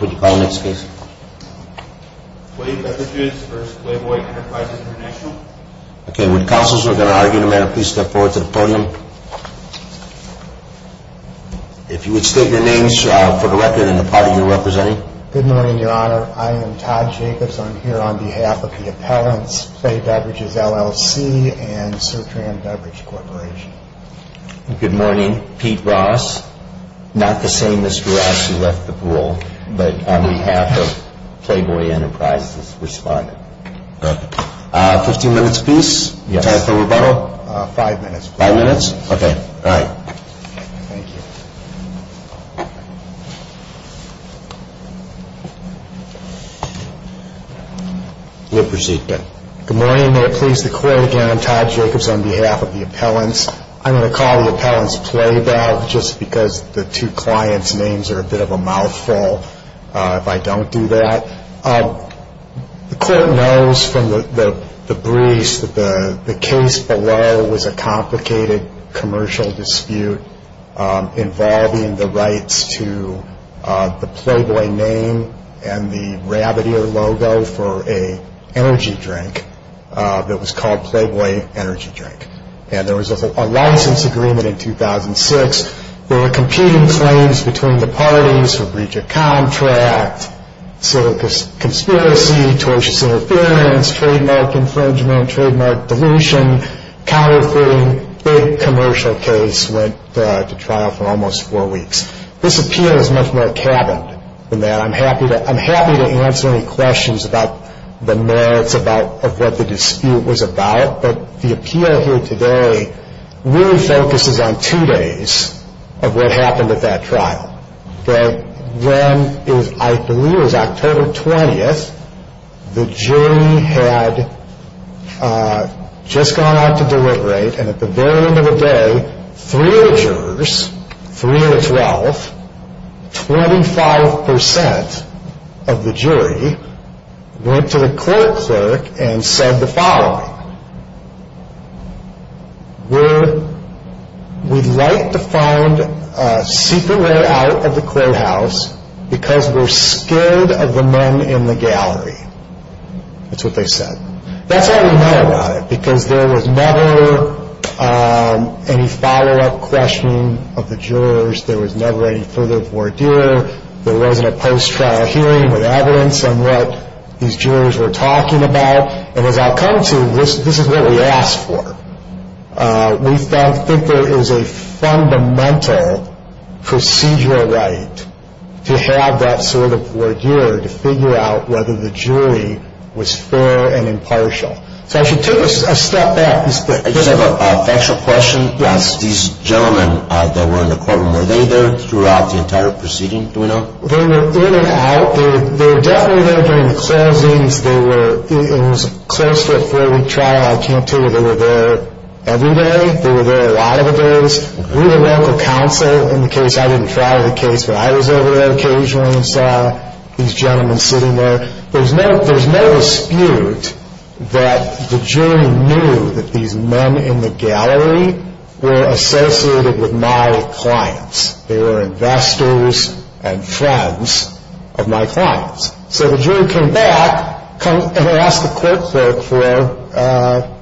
Would you call the next case? Play Beverages v. Playboy Enterprises International Okay, when counsels are going to argue, no matter, please step forward to the podium. If you would state your names for the record and the party you're representing. Good morning, Your Honor. I am Todd Jacobs. I'm here on behalf of the appellants, Play Beverages, LLC and Sertran Beverage Corporation. Good morning. Pete Ross. Not the same Mr. Ross who left the pool, but on behalf of Playboy Enterprises responded. Fifteen minutes, please. Yes. Time for rebuttal? Five minutes. Five minutes? Okay. All right. Thank you. We'll proceed then. Good morning. May it please the Court again, I'm Todd Jacobs on behalf of the appellants. I'm going to call the appellants Playbov just because the two clients' names are a bit of a mouthful if I don't do that. The Court knows from the briefs that the case below was a complicated commercial dispute involving the rights to the Playboy name and the rabbit ear logo for an energy drink that was called Playboy Energy Drink. And there was a license agreement in 2006. There were competing claims between the parties for breach of contract, silly conspiracy, tortuous interference, trademark infringement, trademark dilution, counterfeiting, big commercial case went to trial for almost four weeks. This appeal is much more cabined than that. I'm happy to answer any questions about the merits of what the dispute was about, but the appeal here today really focuses on two days of what happened at that trial. When I believe it was October 20th, the jury had just gone out to deliberate, and at the very end of the day, three of the jurors, three of the 12, 25% of the jury, went to the court clerk and said the following. We'd like to find a secret way out of the courthouse because we're scared of the men in the gallery. That's what they said. That's all we know about it because there was never any follow-up questioning of the jurors. There was never any further vordeal. There wasn't a post-trial hearing with evidence on what these jurors were talking about. And as I've come to, this is what we asked for. We think there is a fundamental procedural right to have that sort of vordeal to figure out whether the jury was fair and impartial. So I should take a step back. I just have a factual question. Yes. These gentlemen that were in the courtroom, were they there throughout the entire proceeding? Do we know? They were in and out. They were definitely there during the closings. It was close to a four-week trial. I can't tell you if they were there every day. They were there a lot of the days. We had local counsel in the case. I didn't try the case, but I was over there occasionally and saw these gentlemen sitting there. There's no dispute that the jury knew that these men in the gallery were associated with my clients. They were investors and friends of my clients. So the jury came back and asked the court clerk for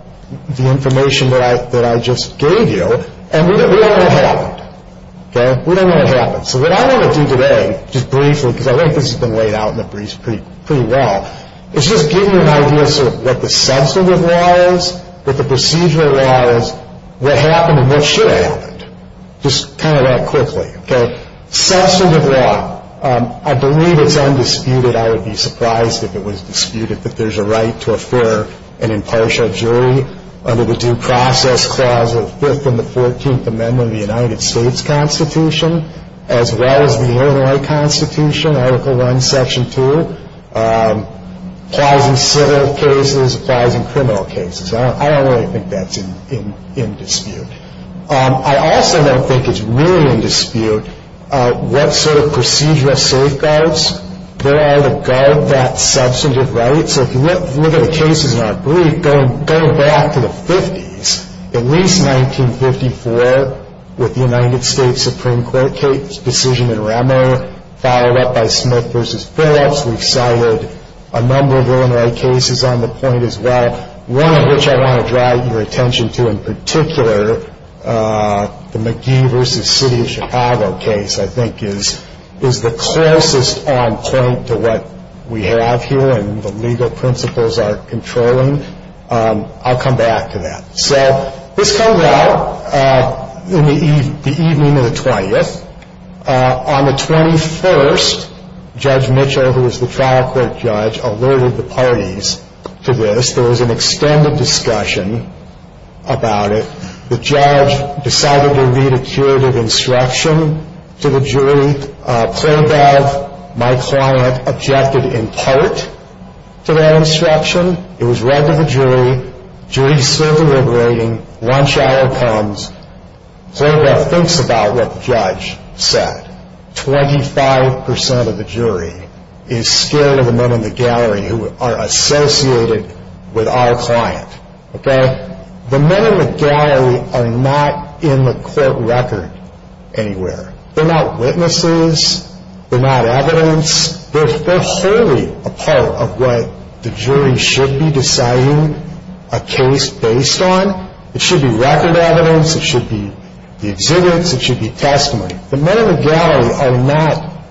the information that I just gave you, and we don't know what happened. We don't know what happened. So what I want to do today, just briefly, because I think this has been laid out in the briefs pretty well, is just give you an idea of what the substantive law is, what the procedural law is, what happened and what should have happened, just kind of that quickly. Substantive law, I believe it's undisputed. I would be surprised if it was disputed that there's a right to afford an impartial jury under the Due Process Clause of the Fifth and the Fourteenth Amendment of the United States Constitution, as well as the Illinois Constitution, Article I, Section 2, applies in civil cases, applies in criminal cases. I also don't think it's really in dispute what sort of procedural safeguards there are to guard that substantive right. So if you look at the cases in our brief, going back to the 50s, at least 1954, with the United States Supreme Court decision in Rameau, followed up by Smith v. Phillips, we cited a number of Illinois cases on the point as well, one of which I want to draw your attention to in particular, the McGee v. City of Chicago case, I think is the closest on point to what we have here and the legal principles are controlling. I'll come back to that. So this comes out in the evening of the 20th. On the 21st, Judge Mitchell, who is the trial court judge, alerted the parties to this. There was an extended discussion about it. The judge decided to read a curative instruction to the jury. Planov, my client, objected in part to that instruction. It was read to the jury. The jury is still deliberating. Lunch hour comes. Planov thinks about what the judge said. 25% of the jury is scared of the men in the gallery who are associated with our client. Okay? The men in the gallery are not in the court record anywhere. They're not witnesses. They're not evidence. They're wholly a part of what the jury should be deciding a case based on. It should be record evidence. It should be the exhibits. It should be testimony. The men in the gallery are not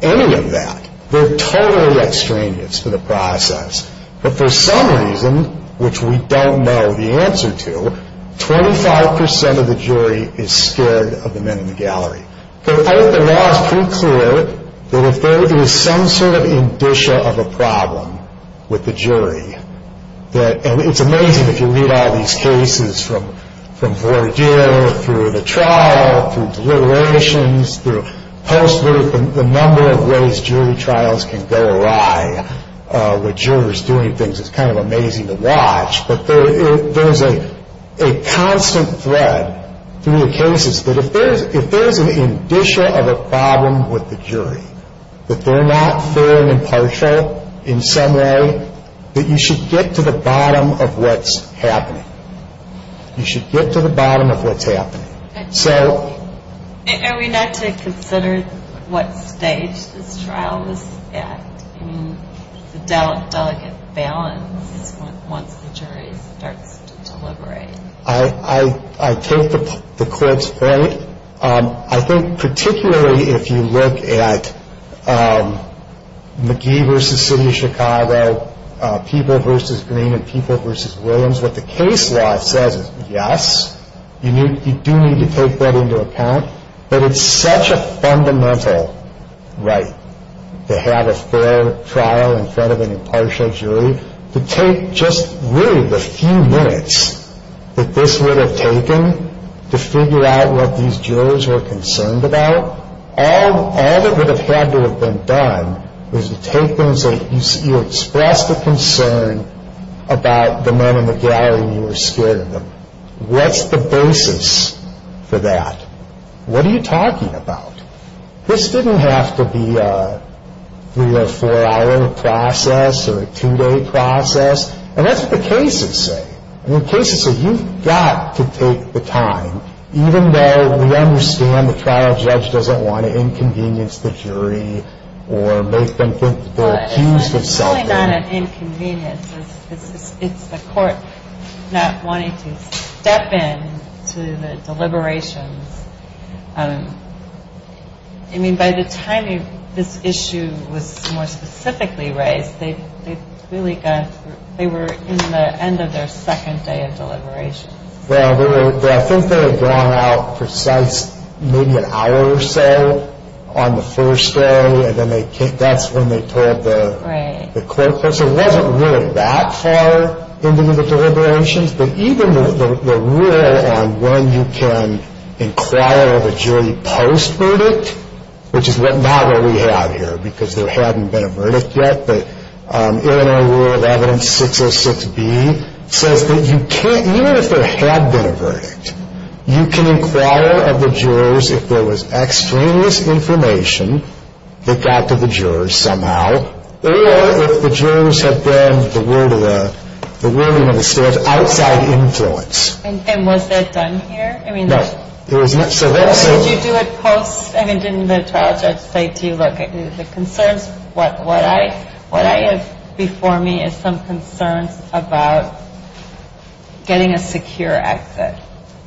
any of that. They're totally at strangeness for the process. But for some reason, which we don't know the answer to, 25% of the jury is scared of the men in the gallery. The law is pretty clear that if there is some sort of indicia of a problem with the jury, and it's amazing if you read all these cases from voir dire, through the trial, through deliberations, through post work, the number of ways jury trials can go awry with jurors doing things. It's kind of amazing to watch. But there is a constant thread through the cases that if there is an indicia of a problem with the jury, that they're not fair and impartial in some way, that you should get to the bottom of what's happening. You should get to the bottom of what's happening. Are we not to consider what stage this trial was at? I mean, the delicate balance once the jury starts to deliberate. I take the court's point. I think particularly if you look at McGee versus City of Chicago, People versus Green and People versus Williams, what the case law says is yes, you do need to take that into account. But it's such a fundamental right to have a fair trial in front of an impartial jury, to take just really the few minutes that this would have taken to figure out what these jurors were concerned about. All that would have had to have been done was to take them and say, you expressed a concern about the men in the gallery and you were scared of them. What's the basis for that? What are you talking about? This didn't have to be a three or four hour process or a two day process. And that's what the cases say. The cases say you've got to take the time, even though we understand the trial judge doesn't want to inconvenience the jury or make them think they're accused of something. It's really not an inconvenience. It's the court not wanting to step in to the deliberations. I mean, by the time this issue was more specifically raised, they were in the end of their second day of deliberations. Well, I think they had gone out precise maybe an hour or so on the first day. And then that's when they told the court. So it wasn't really that far into the deliberations. But even the rule on when you can inquire of a jury post-verdict, which is not what we have here because there hadn't been a verdict yet. But Illinois Rule of Evidence 606B says that you can't, even if there had been a verdict, you can inquire of the jurors if there was extraneous information that got to the jurors somehow, or if the jurors had been outside influence. And was that done here? No. Did you do it post? I mean, didn't the trial judge say, do you look at the concerns? What I have before me is some concerns about getting a secure exit.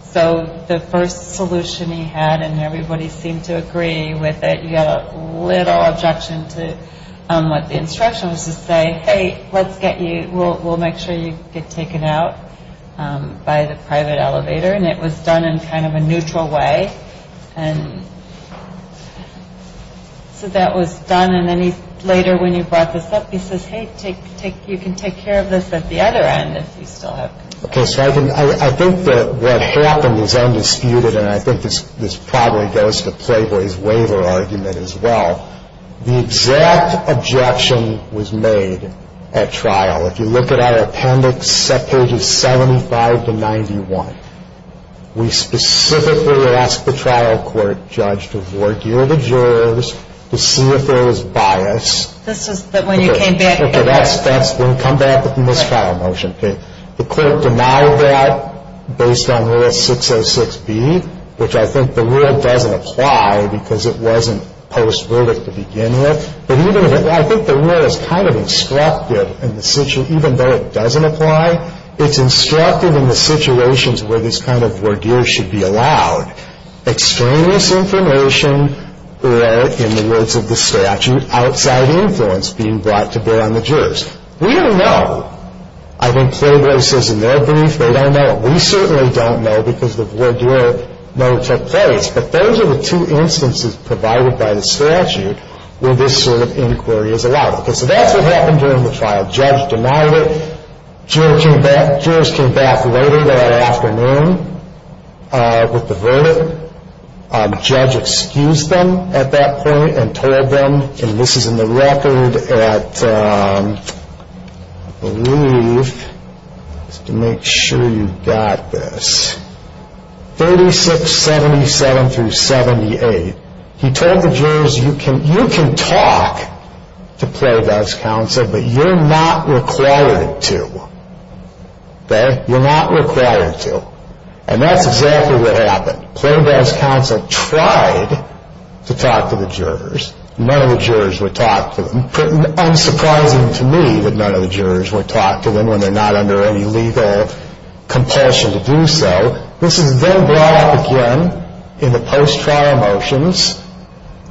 So the first solution he had, and everybody seemed to agree with it, he had a little objection to what the instruction was to say, hey, let's get you, we'll make sure you get taken out by the private elevator. And it was done in kind of a neutral way. And so that was done. And then later when he brought this up, he says, hey, you can take care of this at the other end if you still have concerns. Okay, so I think that what happened is undisputed, and I think this probably goes to Playboy's waiver argument as well. The exact objection was made at trial. If you look at our appendix, pages 75 to 91, we specifically asked the trial court judge to void the jurors, to see if there was bias. This is when you came back. Okay, that's when you come back with the mistrial motion. Okay, the court denied that based on Rule 606B, which I think the rule doesn't apply because it wasn't post-verdict to begin with. But even if it, I think the rule is kind of instructive in the, even though it doesn't apply, it's instructive in the situations where this kind of voir dire should be allowed. Extraneous information or, in the words of the statute, outside influence being brought to bear on the jurors. We don't know. I think Playboy says in their brief they don't know. We certainly don't know because the voir dire never took place. But those are the two instances provided by the statute where this sort of inquiry is allowed. Okay, so that's what happened during the trial. Judge denied it. Jurors came back later that afternoon with the verdict. Judge excused them at that point and told them, and this is in the record at, I believe, just to make sure you've got this, 3677-78. He told the jurors, you can talk to Playboy's counsel, but you're not required to. Okay, you're not required to. And that's exactly what happened. Playboy's counsel tried to talk to the jurors. None of the jurors would talk to them. Unsurprising to me that none of the jurors would talk to them when they're not under any legal compulsion to do so. This is then brought up again in the post-trial motions.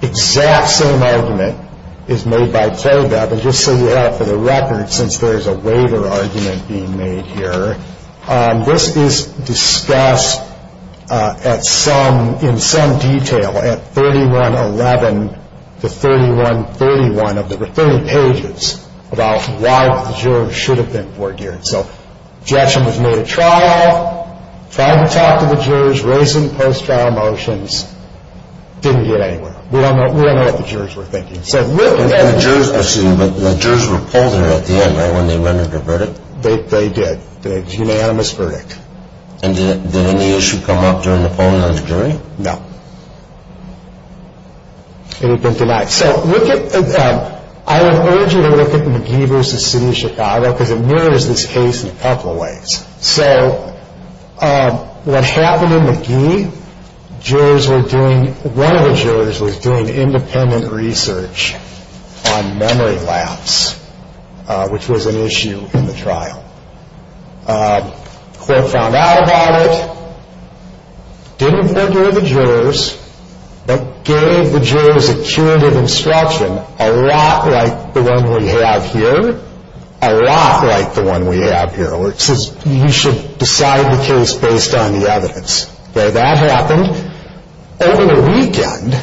Exact same argument is made by Playboy, but just so you have it for the record, since there is a waiver argument being made here. This is discussed in some detail at 3111-3131. There were 30 pages about why the jurors should have been foregeared. So Jackson was made at trial, tried to talk to the jurors, raised in the post-trial motions, didn't get anywhere. We don't know what the jurors were thinking. The jurors were pulled there at the end, right, when they rendered their verdict? They did. They had a unanimous verdict. And did any issue come up during the polling on the jury? No. It had been denied. So I would urge you to look at McGee v. City of Chicago because it mirrors this case in a couple of ways. So what happened in McGee, one of the jurors was doing independent research on memory lapse, which was an issue in the trial. The court found out about it, didn't foregear the jurors, but gave the jurors a curative instruction a lot like the one we have here, a lot like the one we have here, where it says you should decide the case based on the evidence. Okay, that happened. Over the weekend,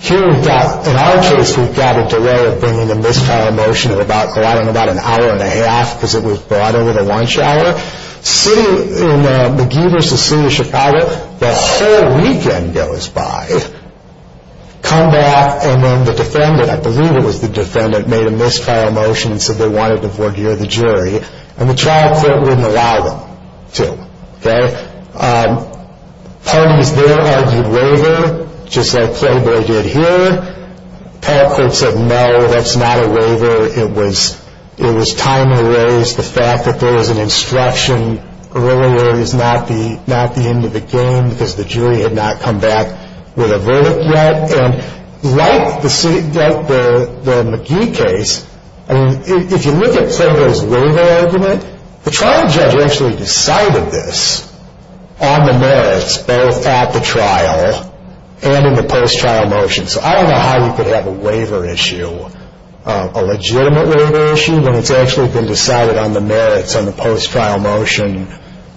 here we've got, in our case, we've got a delay of bringing a missed trial motion of about an hour and a half because it was brought over the lunch hour. In McGee v. City of Chicago, the whole weekend goes by. Come back, and then the defendant, I believe it was the defendant, made a missed trial motion and said they wanted to foregear the jury, and the trial court wouldn't allow them to. Parties there argued waiver, just like Playboy did here. The trial court said, no, that's not a waiver. It was time to raise the fact that there was an instruction earlier, it's not the end of the game because the jury had not come back with a verdict yet. And like the McGee case, if you look at Playboy's waiver argument, the trial judge actually decided this on the merits both at the trial and in the post-trial motion. So I don't know how you could have a waiver issue, a legitimate waiver issue, when it's actually been decided on the merits on the post-trial motion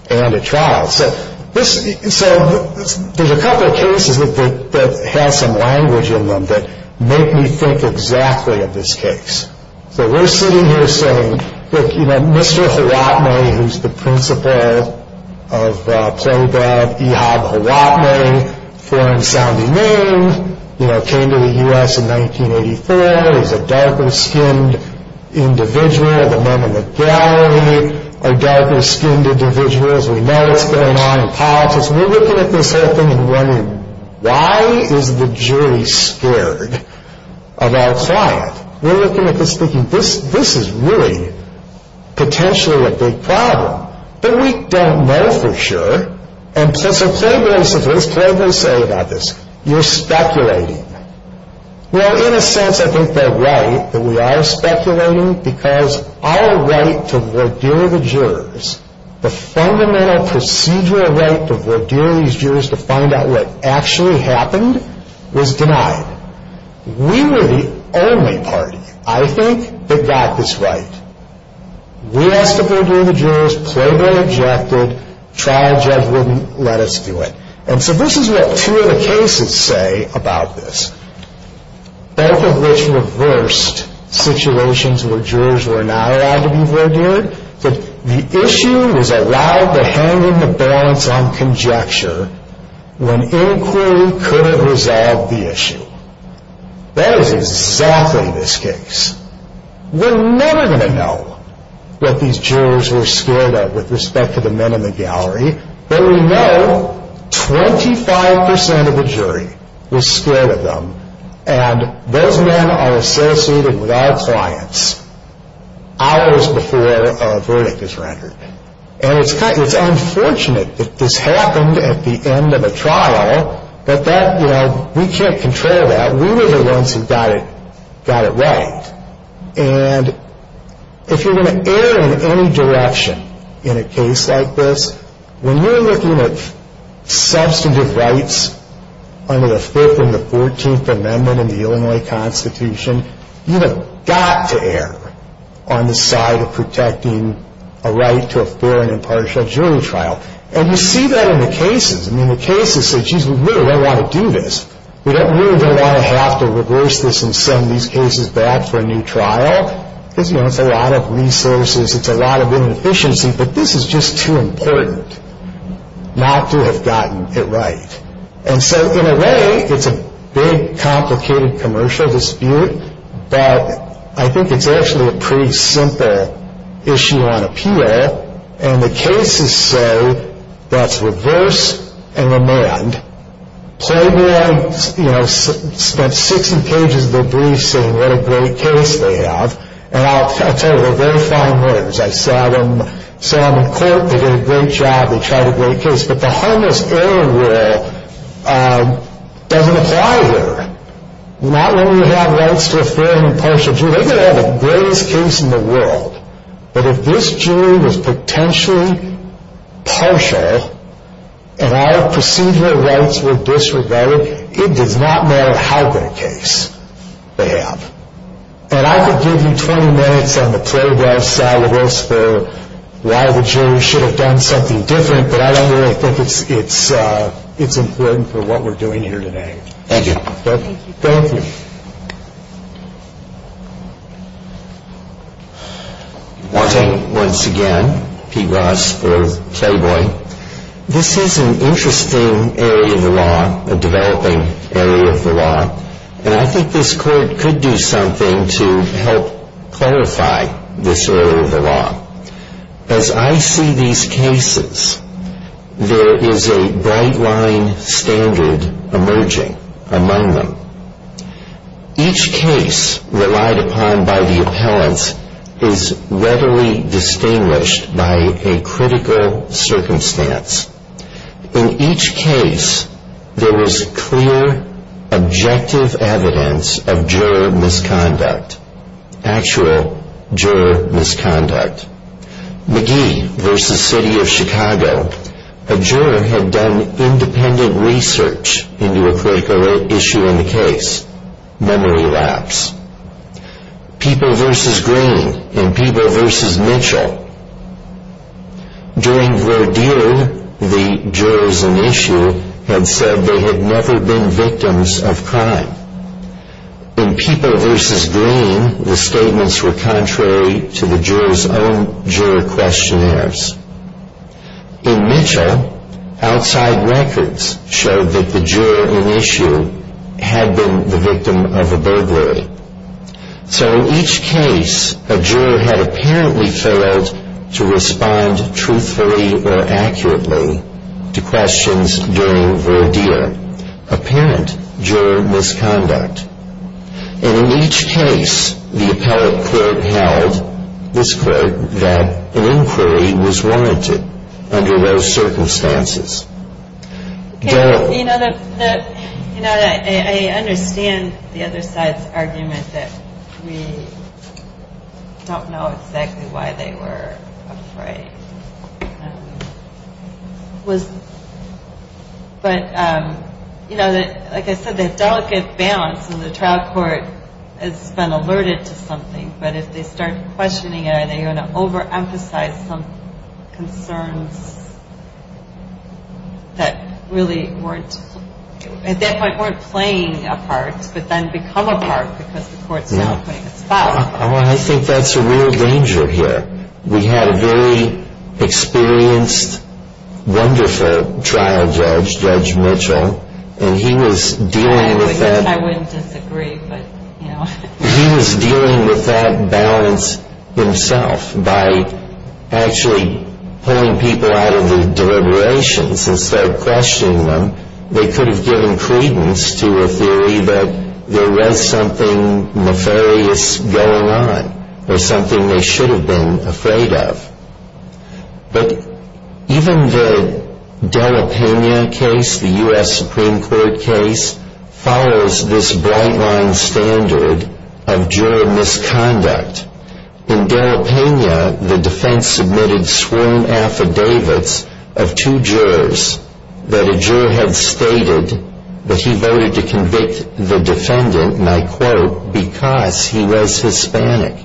and at trial. So there's a couple of cases that have some language in them that make me think exactly of this case. So we're sitting here saying, look, you know, Mr. Hawatme, who's the principal of Playboy, Ehab Hawatme, foreign-sounding name, you know, came to the U.S. in 1984. He's a darker-skinned individual. The men in the gallery are darker-skinned individuals. We know what's going on in politics. We're looking at this whole thing and wondering, why is the jury scared of our client? We're looking at this thinking, this is really potentially a big problem. But we don't know for sure. And so Playboy says, what does Playboy say about this? You're speculating. Well, in a sense, I think they're right that we are speculating because our right to vordeer the jurors, the fundamental procedural right to vordeer these jurors to find out what actually happened, was denied. We were the only party, I think, that got this right. We asked to vordeer the jurors. Playboy objected. Trial judge wouldn't let us do it. And so this is what two of the cases say about this, both of which reversed situations where jurors were not allowed to be vordeered. The issue was allowed to hang in the balance on conjecture when inquiry couldn't resolve the issue. That is exactly this case. We're never going to know what these jurors were scared of with respect to the men in the gallery. But we know 25% of the jury was scared of them. And those men are associated with our clients hours before a verdict is rendered. And it's unfortunate that this happened at the end of a trial, but we can't control that. We were the ones who got it right. And if you're going to err in any direction in a case like this, when you're looking at substantive rights under the 5th and the 14th Amendment in the Illinois Constitution, you have got to err on the side of protecting a right to a fair and impartial jury trial. And you see that in the cases. I mean, the cases say, geez, we really don't want to do this. We really don't want to have to reverse this and send these cases back for a new trial. It's a lot of resources. It's a lot of inefficiency. But this is just too important not to have gotten it right. And so in a way, it's a big, complicated commercial dispute. But I think it's actually a pretty simple issue on appeal. And the cases say that's reverse and amend. Playboy, you know, spent 60 pages of their brief saying what a great case they have. And I'll tell you, they're very fine words. I saw them in court. They did a great job. They tried a great case. But the harmless error rule doesn't apply here. Not when you have rights to a fair and impartial jury. They've got to have the greatest case in the world. But if this jury was potentially partial and our procedural rights were disregarded, it does not matter how great a case they have. And I could give you 20 minutes on the Playboy side of this for why the jury should have done something different. But I don't really think it's important for what we're doing here today. Thank you. Thank you. Once again, Pete Ross for Playboy. This is an interesting area of the law, a developing area of the law. And I think this court could do something to help clarify this area of the law. As I see these cases, there is a bright line standard emerging among them. Each case relied upon by the appellants is readily distinguished by a critical circumstance. In each case, there was clear, objective evidence of juror misconduct, actual juror misconduct. McGee v. City of Chicago, a juror had done independent research into a critical issue in the case, memory lapse. People v. Green and People v. Mitchell. During Verdeer, the jurors in issue had said they had never been victims of crime. In People v. Green, the statements were contrary to the jurors' own juror questionnaires. In Mitchell, outside records showed that the juror in issue had been the victim of a burglary. So in each case, a juror had apparently failed to respond truthfully or accurately to questions during Verdeer. Apparent juror misconduct. And in each case, the appellate court held, this court, that an inquiry was warranted under those circumstances. You know, I understand the other side's argument that we don't know exactly why they were afraid. But, you know, like I said, that delicate balance in the trial court has been alerted to something. But if they start questioning it, are they going to overemphasize some concerns that really weren't, at that point, weren't playing a part, but then become a part because the court's not playing a spot? Well, I think that's a real danger here. We had a very experienced, wonderful trial judge, Judge Mitchell, and he was dealing with that. I wouldn't disagree, but, you know. He was dealing with that balance himself by actually pulling people out of the deliberations and start questioning them. They could have given credence to a theory that there was something nefarious going on or something they should have been afraid of. But even the de la Pena case, the U.S. Supreme Court case, follows this bright-line standard of juror misconduct. In de la Pena, the defense submitted sworn affidavits of two jurors that a juror had stated that he voted to convict the defendant, and I quote, because he was Hispanic.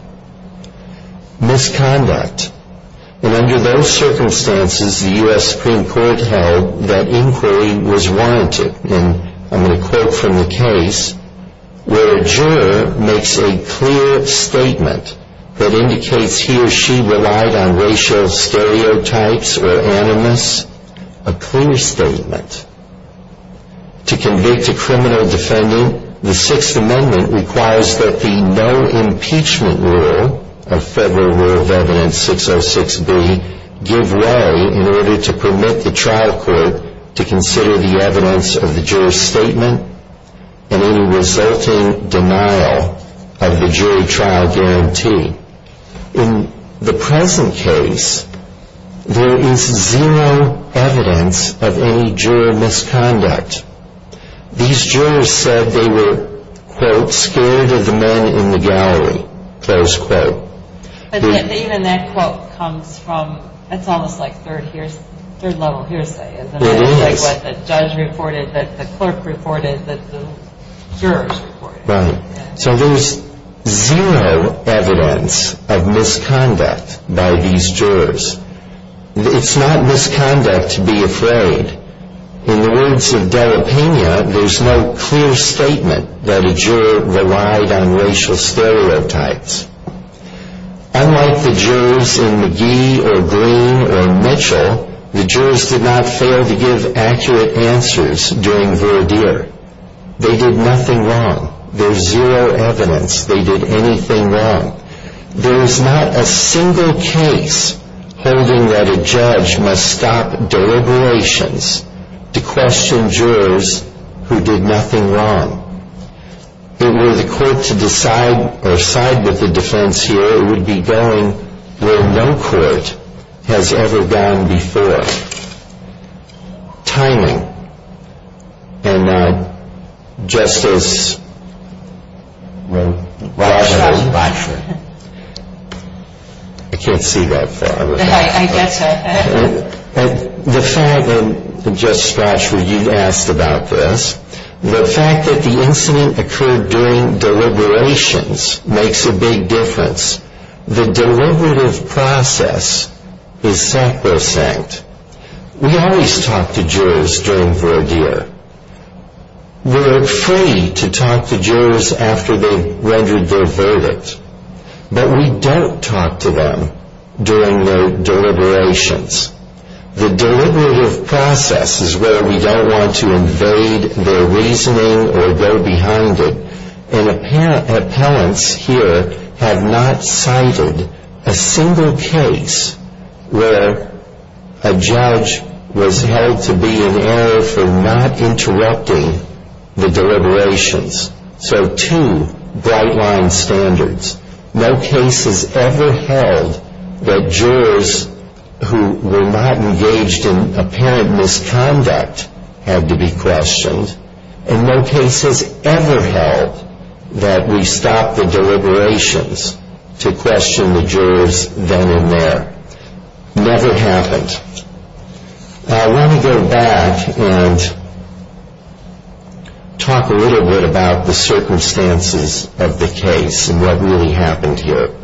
Misconduct. And under those circumstances, the U.S. Supreme Court held that inquiry was warranted. And I'm going to quote from the case where a juror makes a clear statement that indicates he or she relied on racial stereotypes or animus. A clear statement. To convict a criminal defendant, the Sixth Amendment requires that the no-impeachment rule of Federal Rule of Evidence 606B give way in order to permit the trial court to consider the evidence of the juror's statement and any resulting denial of the jury trial guarantee. In the present case, there is zero evidence of any juror misconduct. These jurors said they were, quote, scared of the men in the gallery, close quote. But even that quote comes from, it's almost like third-level hearsay, isn't it? It is. It's like what the judge reported, that the clerk reported, that the jurors reported. Right. So there's zero evidence of misconduct by these jurors. It's not misconduct to be afraid. In the words of Della Pena, there's no clear statement that a juror relied on racial stereotypes. Unlike the jurors in McGee or Green or Mitchell, the jurors did not fail to give accurate answers during Verdeer. They did nothing wrong. There's zero evidence they did anything wrong. There is not a single case holding that a judge must stop deliberations to question jurors who did nothing wrong. If it were the court to decide or side with the defense here, it would be going where no court has ever gone before, timing. And Justice Rochford, I can't see that far. I guess so. The fact that, Justice Rochford, you've asked about this, the fact that the incident occurred during deliberations makes a big difference. The deliberative process is sacrosanct. We always talk to jurors during Verdeer. We're free to talk to jurors after they've rendered their verdict. But we don't talk to them during their deliberations. The deliberative process is where we don't want to invade their reasoning or go behind it. And appellants here have not cited a single case where a judge was held to be in error for not interrupting the deliberations. So two bright-line standards. No cases ever held that jurors who were not engaged in apparent misconduct had to be questioned. And no case has ever held that we stop the deliberations to question the jurors then and there. Never happened. I want to go back and talk a little bit about the circumstances of the case and what really happened here.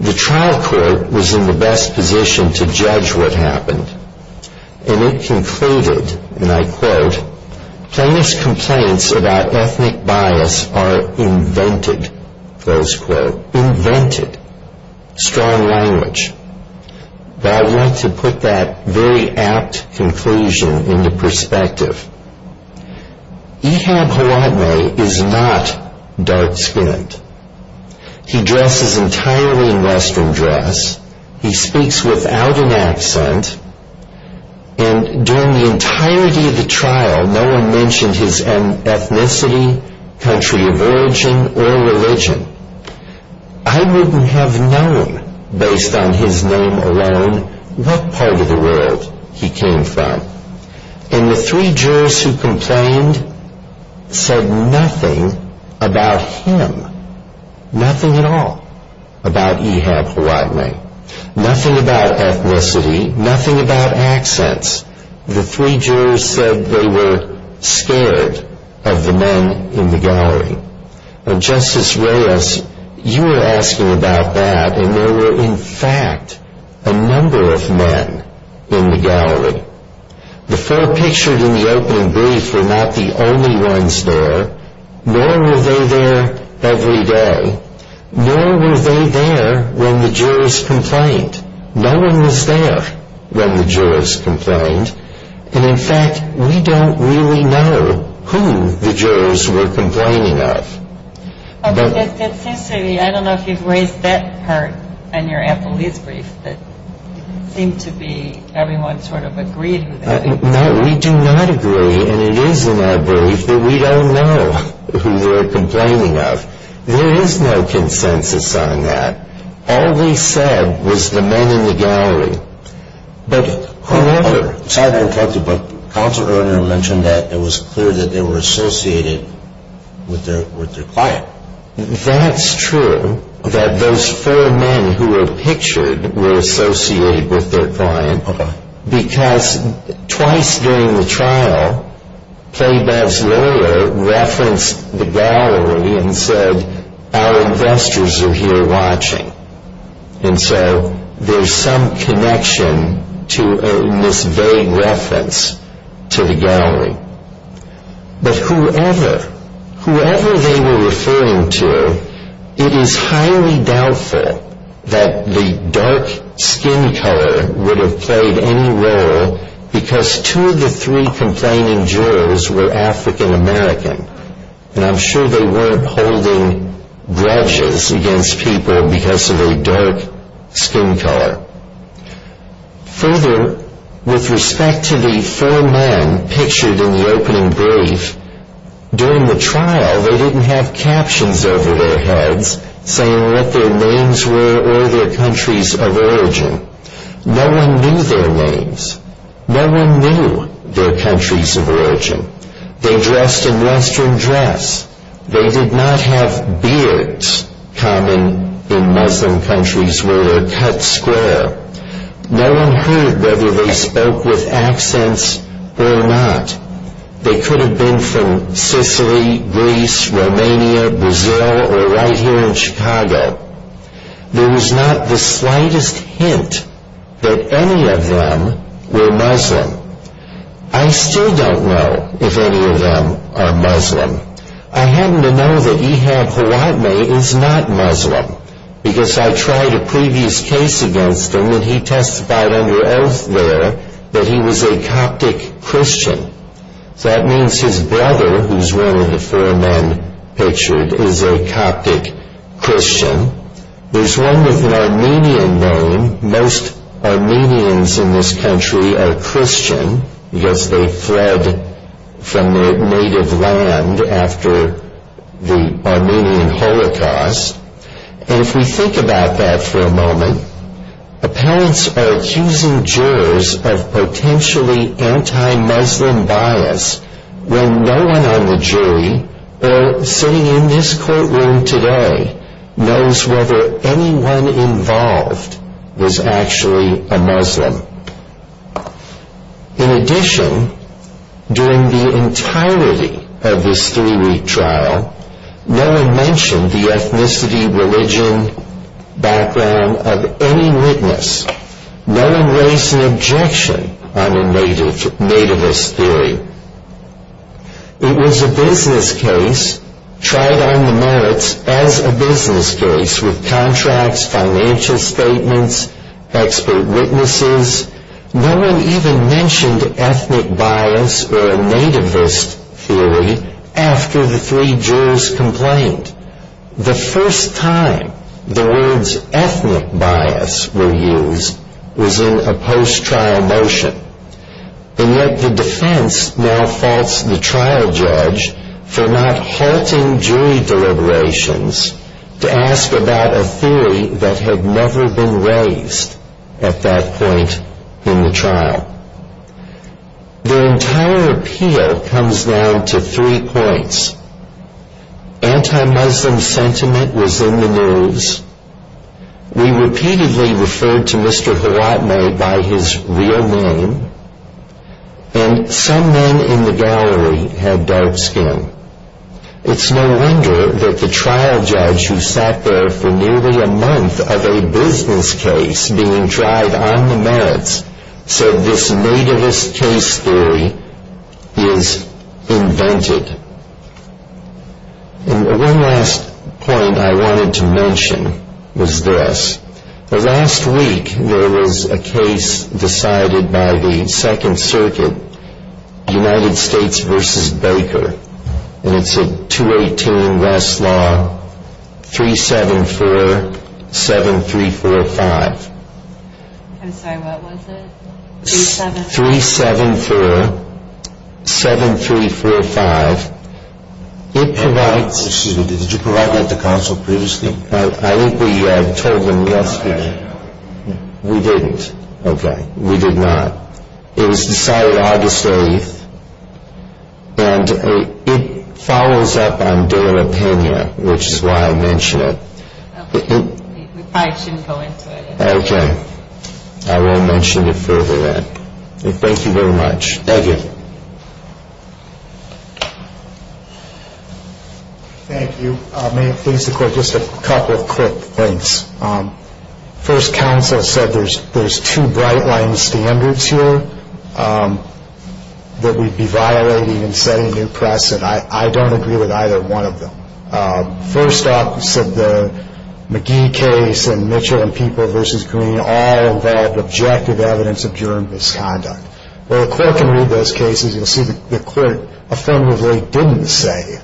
The trial court was in the best position to judge what happened. And it concluded, and I quote, Plaintiff's complaints about ethnic bias are invented, close quote. Invented. Strong language. But I want to put that very apt conclusion into perspective. Ehab Hawane is not dark-skinned. He dresses entirely in Western dress. He speaks without an accent. And during the entirety of the trial, no one mentioned his ethnicity, country of origin, or religion. I wouldn't have known, based on his name alone, what part of the world he came from. And the three jurors who complained said nothing about him. Nothing at all about Ehab Hawane. Nothing about ethnicity. Nothing about accents. The three jurors said they were scared of the men in the gallery. Justice Reyes, you were asking about that, and there were in fact a number of men in the gallery. The four pictured in the opening brief were not the only ones there. Nor were they there every day. Nor were they there when the jurors complained. No one was there when the jurors complained. And in fact, we don't really know who the jurors were complaining of. But that seems to me, I don't know if you've raised that part in your Applebee's brief, that it seemed to be everyone sort of agreed with that. No, we do not agree. And it is in that brief that we don't know who they were complaining of. There is no consensus on that. All they said was the men in the gallery. But whoever... I haven't looked at the book. Counselor Erner mentioned that it was clear that they were associated with their client. That's true, that those four men who were pictured were associated with their client. Why? Because twice during the trial, Playbell's lawyer referenced the gallery and said, our investors are here watching. And so there's some connection to this vague reference to the gallery. But whoever, whoever they were referring to, it is highly doubtful that the dark skin color would have played any role because two of the three complaining jurors were African American. And I'm sure they weren't holding grudges against people because of a dark skin color. Further, with respect to the four men pictured in the opening brief, during the trial, they didn't have captions over their heads saying what their names were or their countries of origin. No one knew their names. No one knew their countries of origin. They dressed in Western dress. They did not have beards, common in Muslim countries where they're cut square. No one heard whether they spoke with accents or not. They could have been from Sicily, Greece, Romania, Brazil, or right here in Chicago. There was not the slightest hint that any of them were Muslim. I still don't know if any of them are Muslim. I happen to know that Ehab Hawadmeh is not Muslim because I tried a previous case against him and he testified under oath there that he was a Coptic Christian. So that means his brother, who's one of the four men pictured, is a Coptic Christian. There's one with an Armenian name. Most Armenians in this country are Christian because they fled from their native land after the Armenian Holocaust. And if we think about that for a moment, apparents are accusing jurors of potentially anti-Muslim bias when no one on the jury, or sitting in this courtroom today, knows whether anyone involved is actually a Muslim. In addition, during the entirety of this three-week trial, no one mentioned the ethnicity, religion, background of any witness. No one raised an objection on a nativist theory. It was a business case, tried on the merits as a business case, with contracts, financial statements, expert witnesses. No one even mentioned ethnic bias or a nativist theory after the three jurors complained. The first time the words ethnic bias were used was in a post-trial motion. And yet the defense now faults the trial judge for not halting jury deliberations to ask about a theory that had never been raised at that point in the trial. The entire appeal comes down to three points. Anti-Muslim sentiment was in the news. We repeatedly referred to Mr. Horatne by his real name. And some men in the gallery had dark skin. It's no wonder that the trial judge who sat there for nearly a month of a business case being tried on the merits said this nativist case theory is invented. And one last point I wanted to mention was this. Last week there was a case decided by the Second Circuit, United States v. Baker. And it's a 218 Westlaw 3747345. I'm sorry, what was it? 3-7-4-7-3-4-5. Excuse me, did you provide that to counsel previously? I think we told them yesterday. We didn't. Okay. We did not. It was decided August 8th. And it follows up on De La Pena, which is why I mention it. We probably shouldn't go into it. Okay. I will mention it further then. Thank you very much. Thank you. Thank you. May it please the Court, just a couple of quick things. First, counsel said there's two bright-line standards here that we'd be violating in setting new press, and I don't agree with either one of them. First up, said the McGee case and Mitchell v. Green all involved objective evidence of germ misconduct. Well, the Court can read those cases. You'll see the Court affirmatively didn't say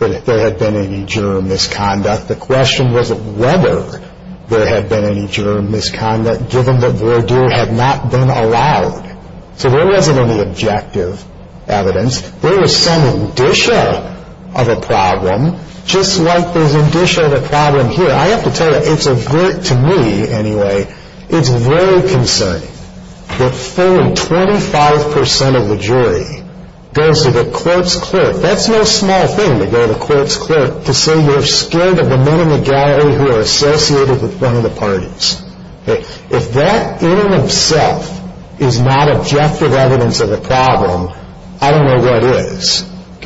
that there had been any germ misconduct. The question was whether there had been any germ misconduct, given that voir dire had not been allowed. So there wasn't any objective evidence. There was some indicia of a problem, just like there's indicia of a problem here. I have to tell you, it's overt to me anyway. It's very concerning that four in 25 percent of the jury goes to the court's clerk. That's no small thing, to go to the court's clerk to say you're scared of the men in the gallery who are associated with one of the parties. If that in and of itself is not objective evidence of a problem, I don't know what is. He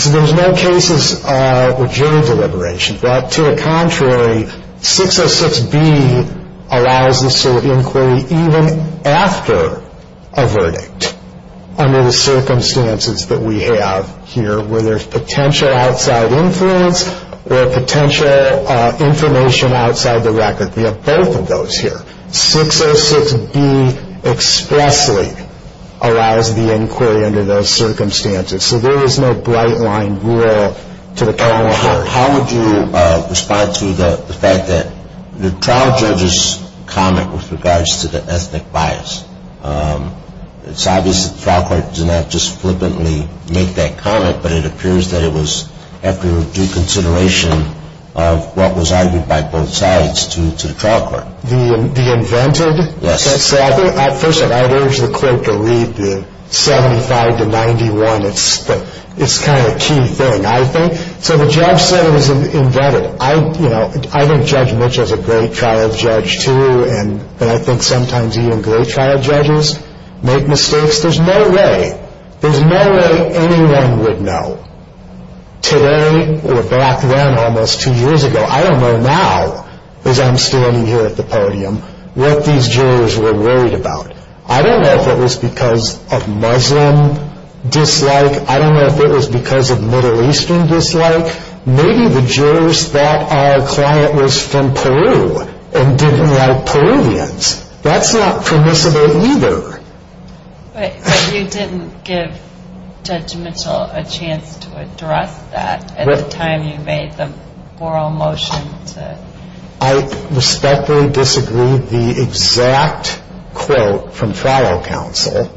said there's no cases or jury deliberations. To the contrary, 606B allows us to inquire even after a verdict under the circumstances that we have here, where there's potential outside influence or potential information outside the record. We have both of those here. 606B expressly allows the inquiry under those circumstances. So there is no bright-line rule to the court. How would you respond to the fact that the trial judge's comment with regards to the ethnic bias, it's obvious that the trial court did not just flippantly make that comment, but it appears that it was after due consideration of what was argued by both sides to the trial court. The invented? Yes. First of all, I would urge the clerk to read the 75 to 91. It's kind of a key thing. So the judge said it was invented. I think Judge Mitch is a great trial judge, too, and I think sometimes even great trial judges make mistakes. There's no way anyone would know today or back then almost two years ago, I don't know now as I'm standing here at the podium, what these jurors were worried about. I don't know if it was because of Muslim dislike. I don't know if it was because of Middle Eastern dislike. Maybe the jurors thought our client was from Peru and didn't like Peruvians. That's not permissible either. But you didn't give Judge Mitchell a chance to address that at the time you made the moral motion to. I respectfully disagree with the exact quote from trial counsel.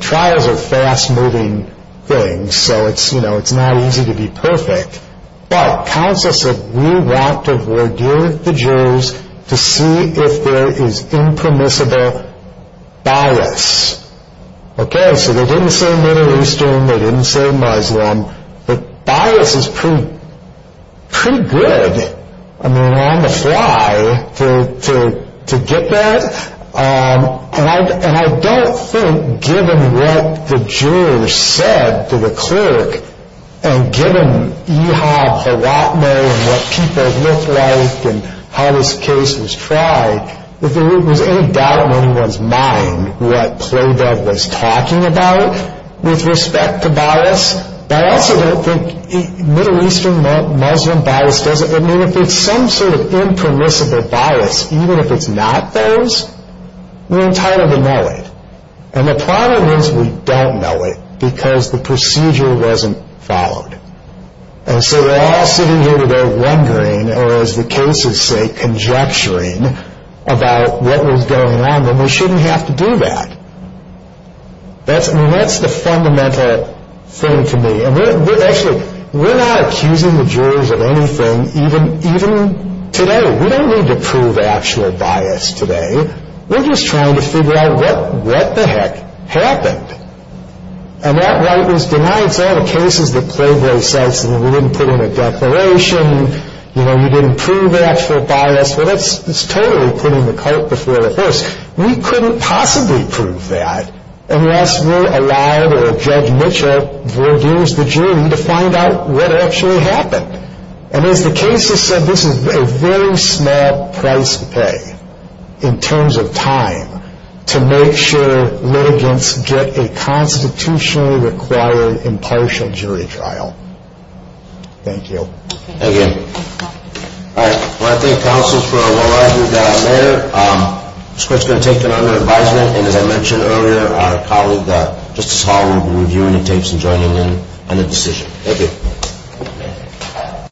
Trials are fast-moving things, so it's not easy to be perfect. But counsel said we want to ordeal the jurors to see if there is impermissible bias. Okay, so they didn't say Middle Eastern, they didn't say Muslim. But bias is pretty good. I mean, on the fly to get that. And I don't think, given what the jurors said to the clerk, and given Ehab Haratmo and what people look like and how this case was tried, that there was any doubt when he was mine what Playdough was talking about with respect to bias. But I also don't think Middle Eastern Muslim bias does it. I mean, if it's some sort of impermissible bias, even if it's not those, we're entitled to know it. And the problem is we don't know it because the procedure wasn't followed. And so we're all sitting here today wondering, or as the cases say, conjecturing about what was going on, and we shouldn't have to do that. I mean, that's the fundamental thing to me. Actually, we're not accusing the jurors of anything, even today. We don't need to prove actual bias today. We're just trying to figure out what the heck happened. And that right was denied. It's all the cases that Playboy cites, and we didn't put in a declaration, you know, you didn't prove actual bias. We couldn't possibly prove that unless we allowed a Judge Mitchell, who reviews the jury, to find out what actually happened. And as the cases said, this is a very small price to pay in terms of time to make sure litigants get a constitutionally required impartial jury trial. Thank you. Thank you. All right. I want to thank counsels for a well-argued letter. I'm just going to take another advisement, and as I mentioned earlier, our colleague Justice Hall will be reviewing the tapes and joining in on the decision. Thank you.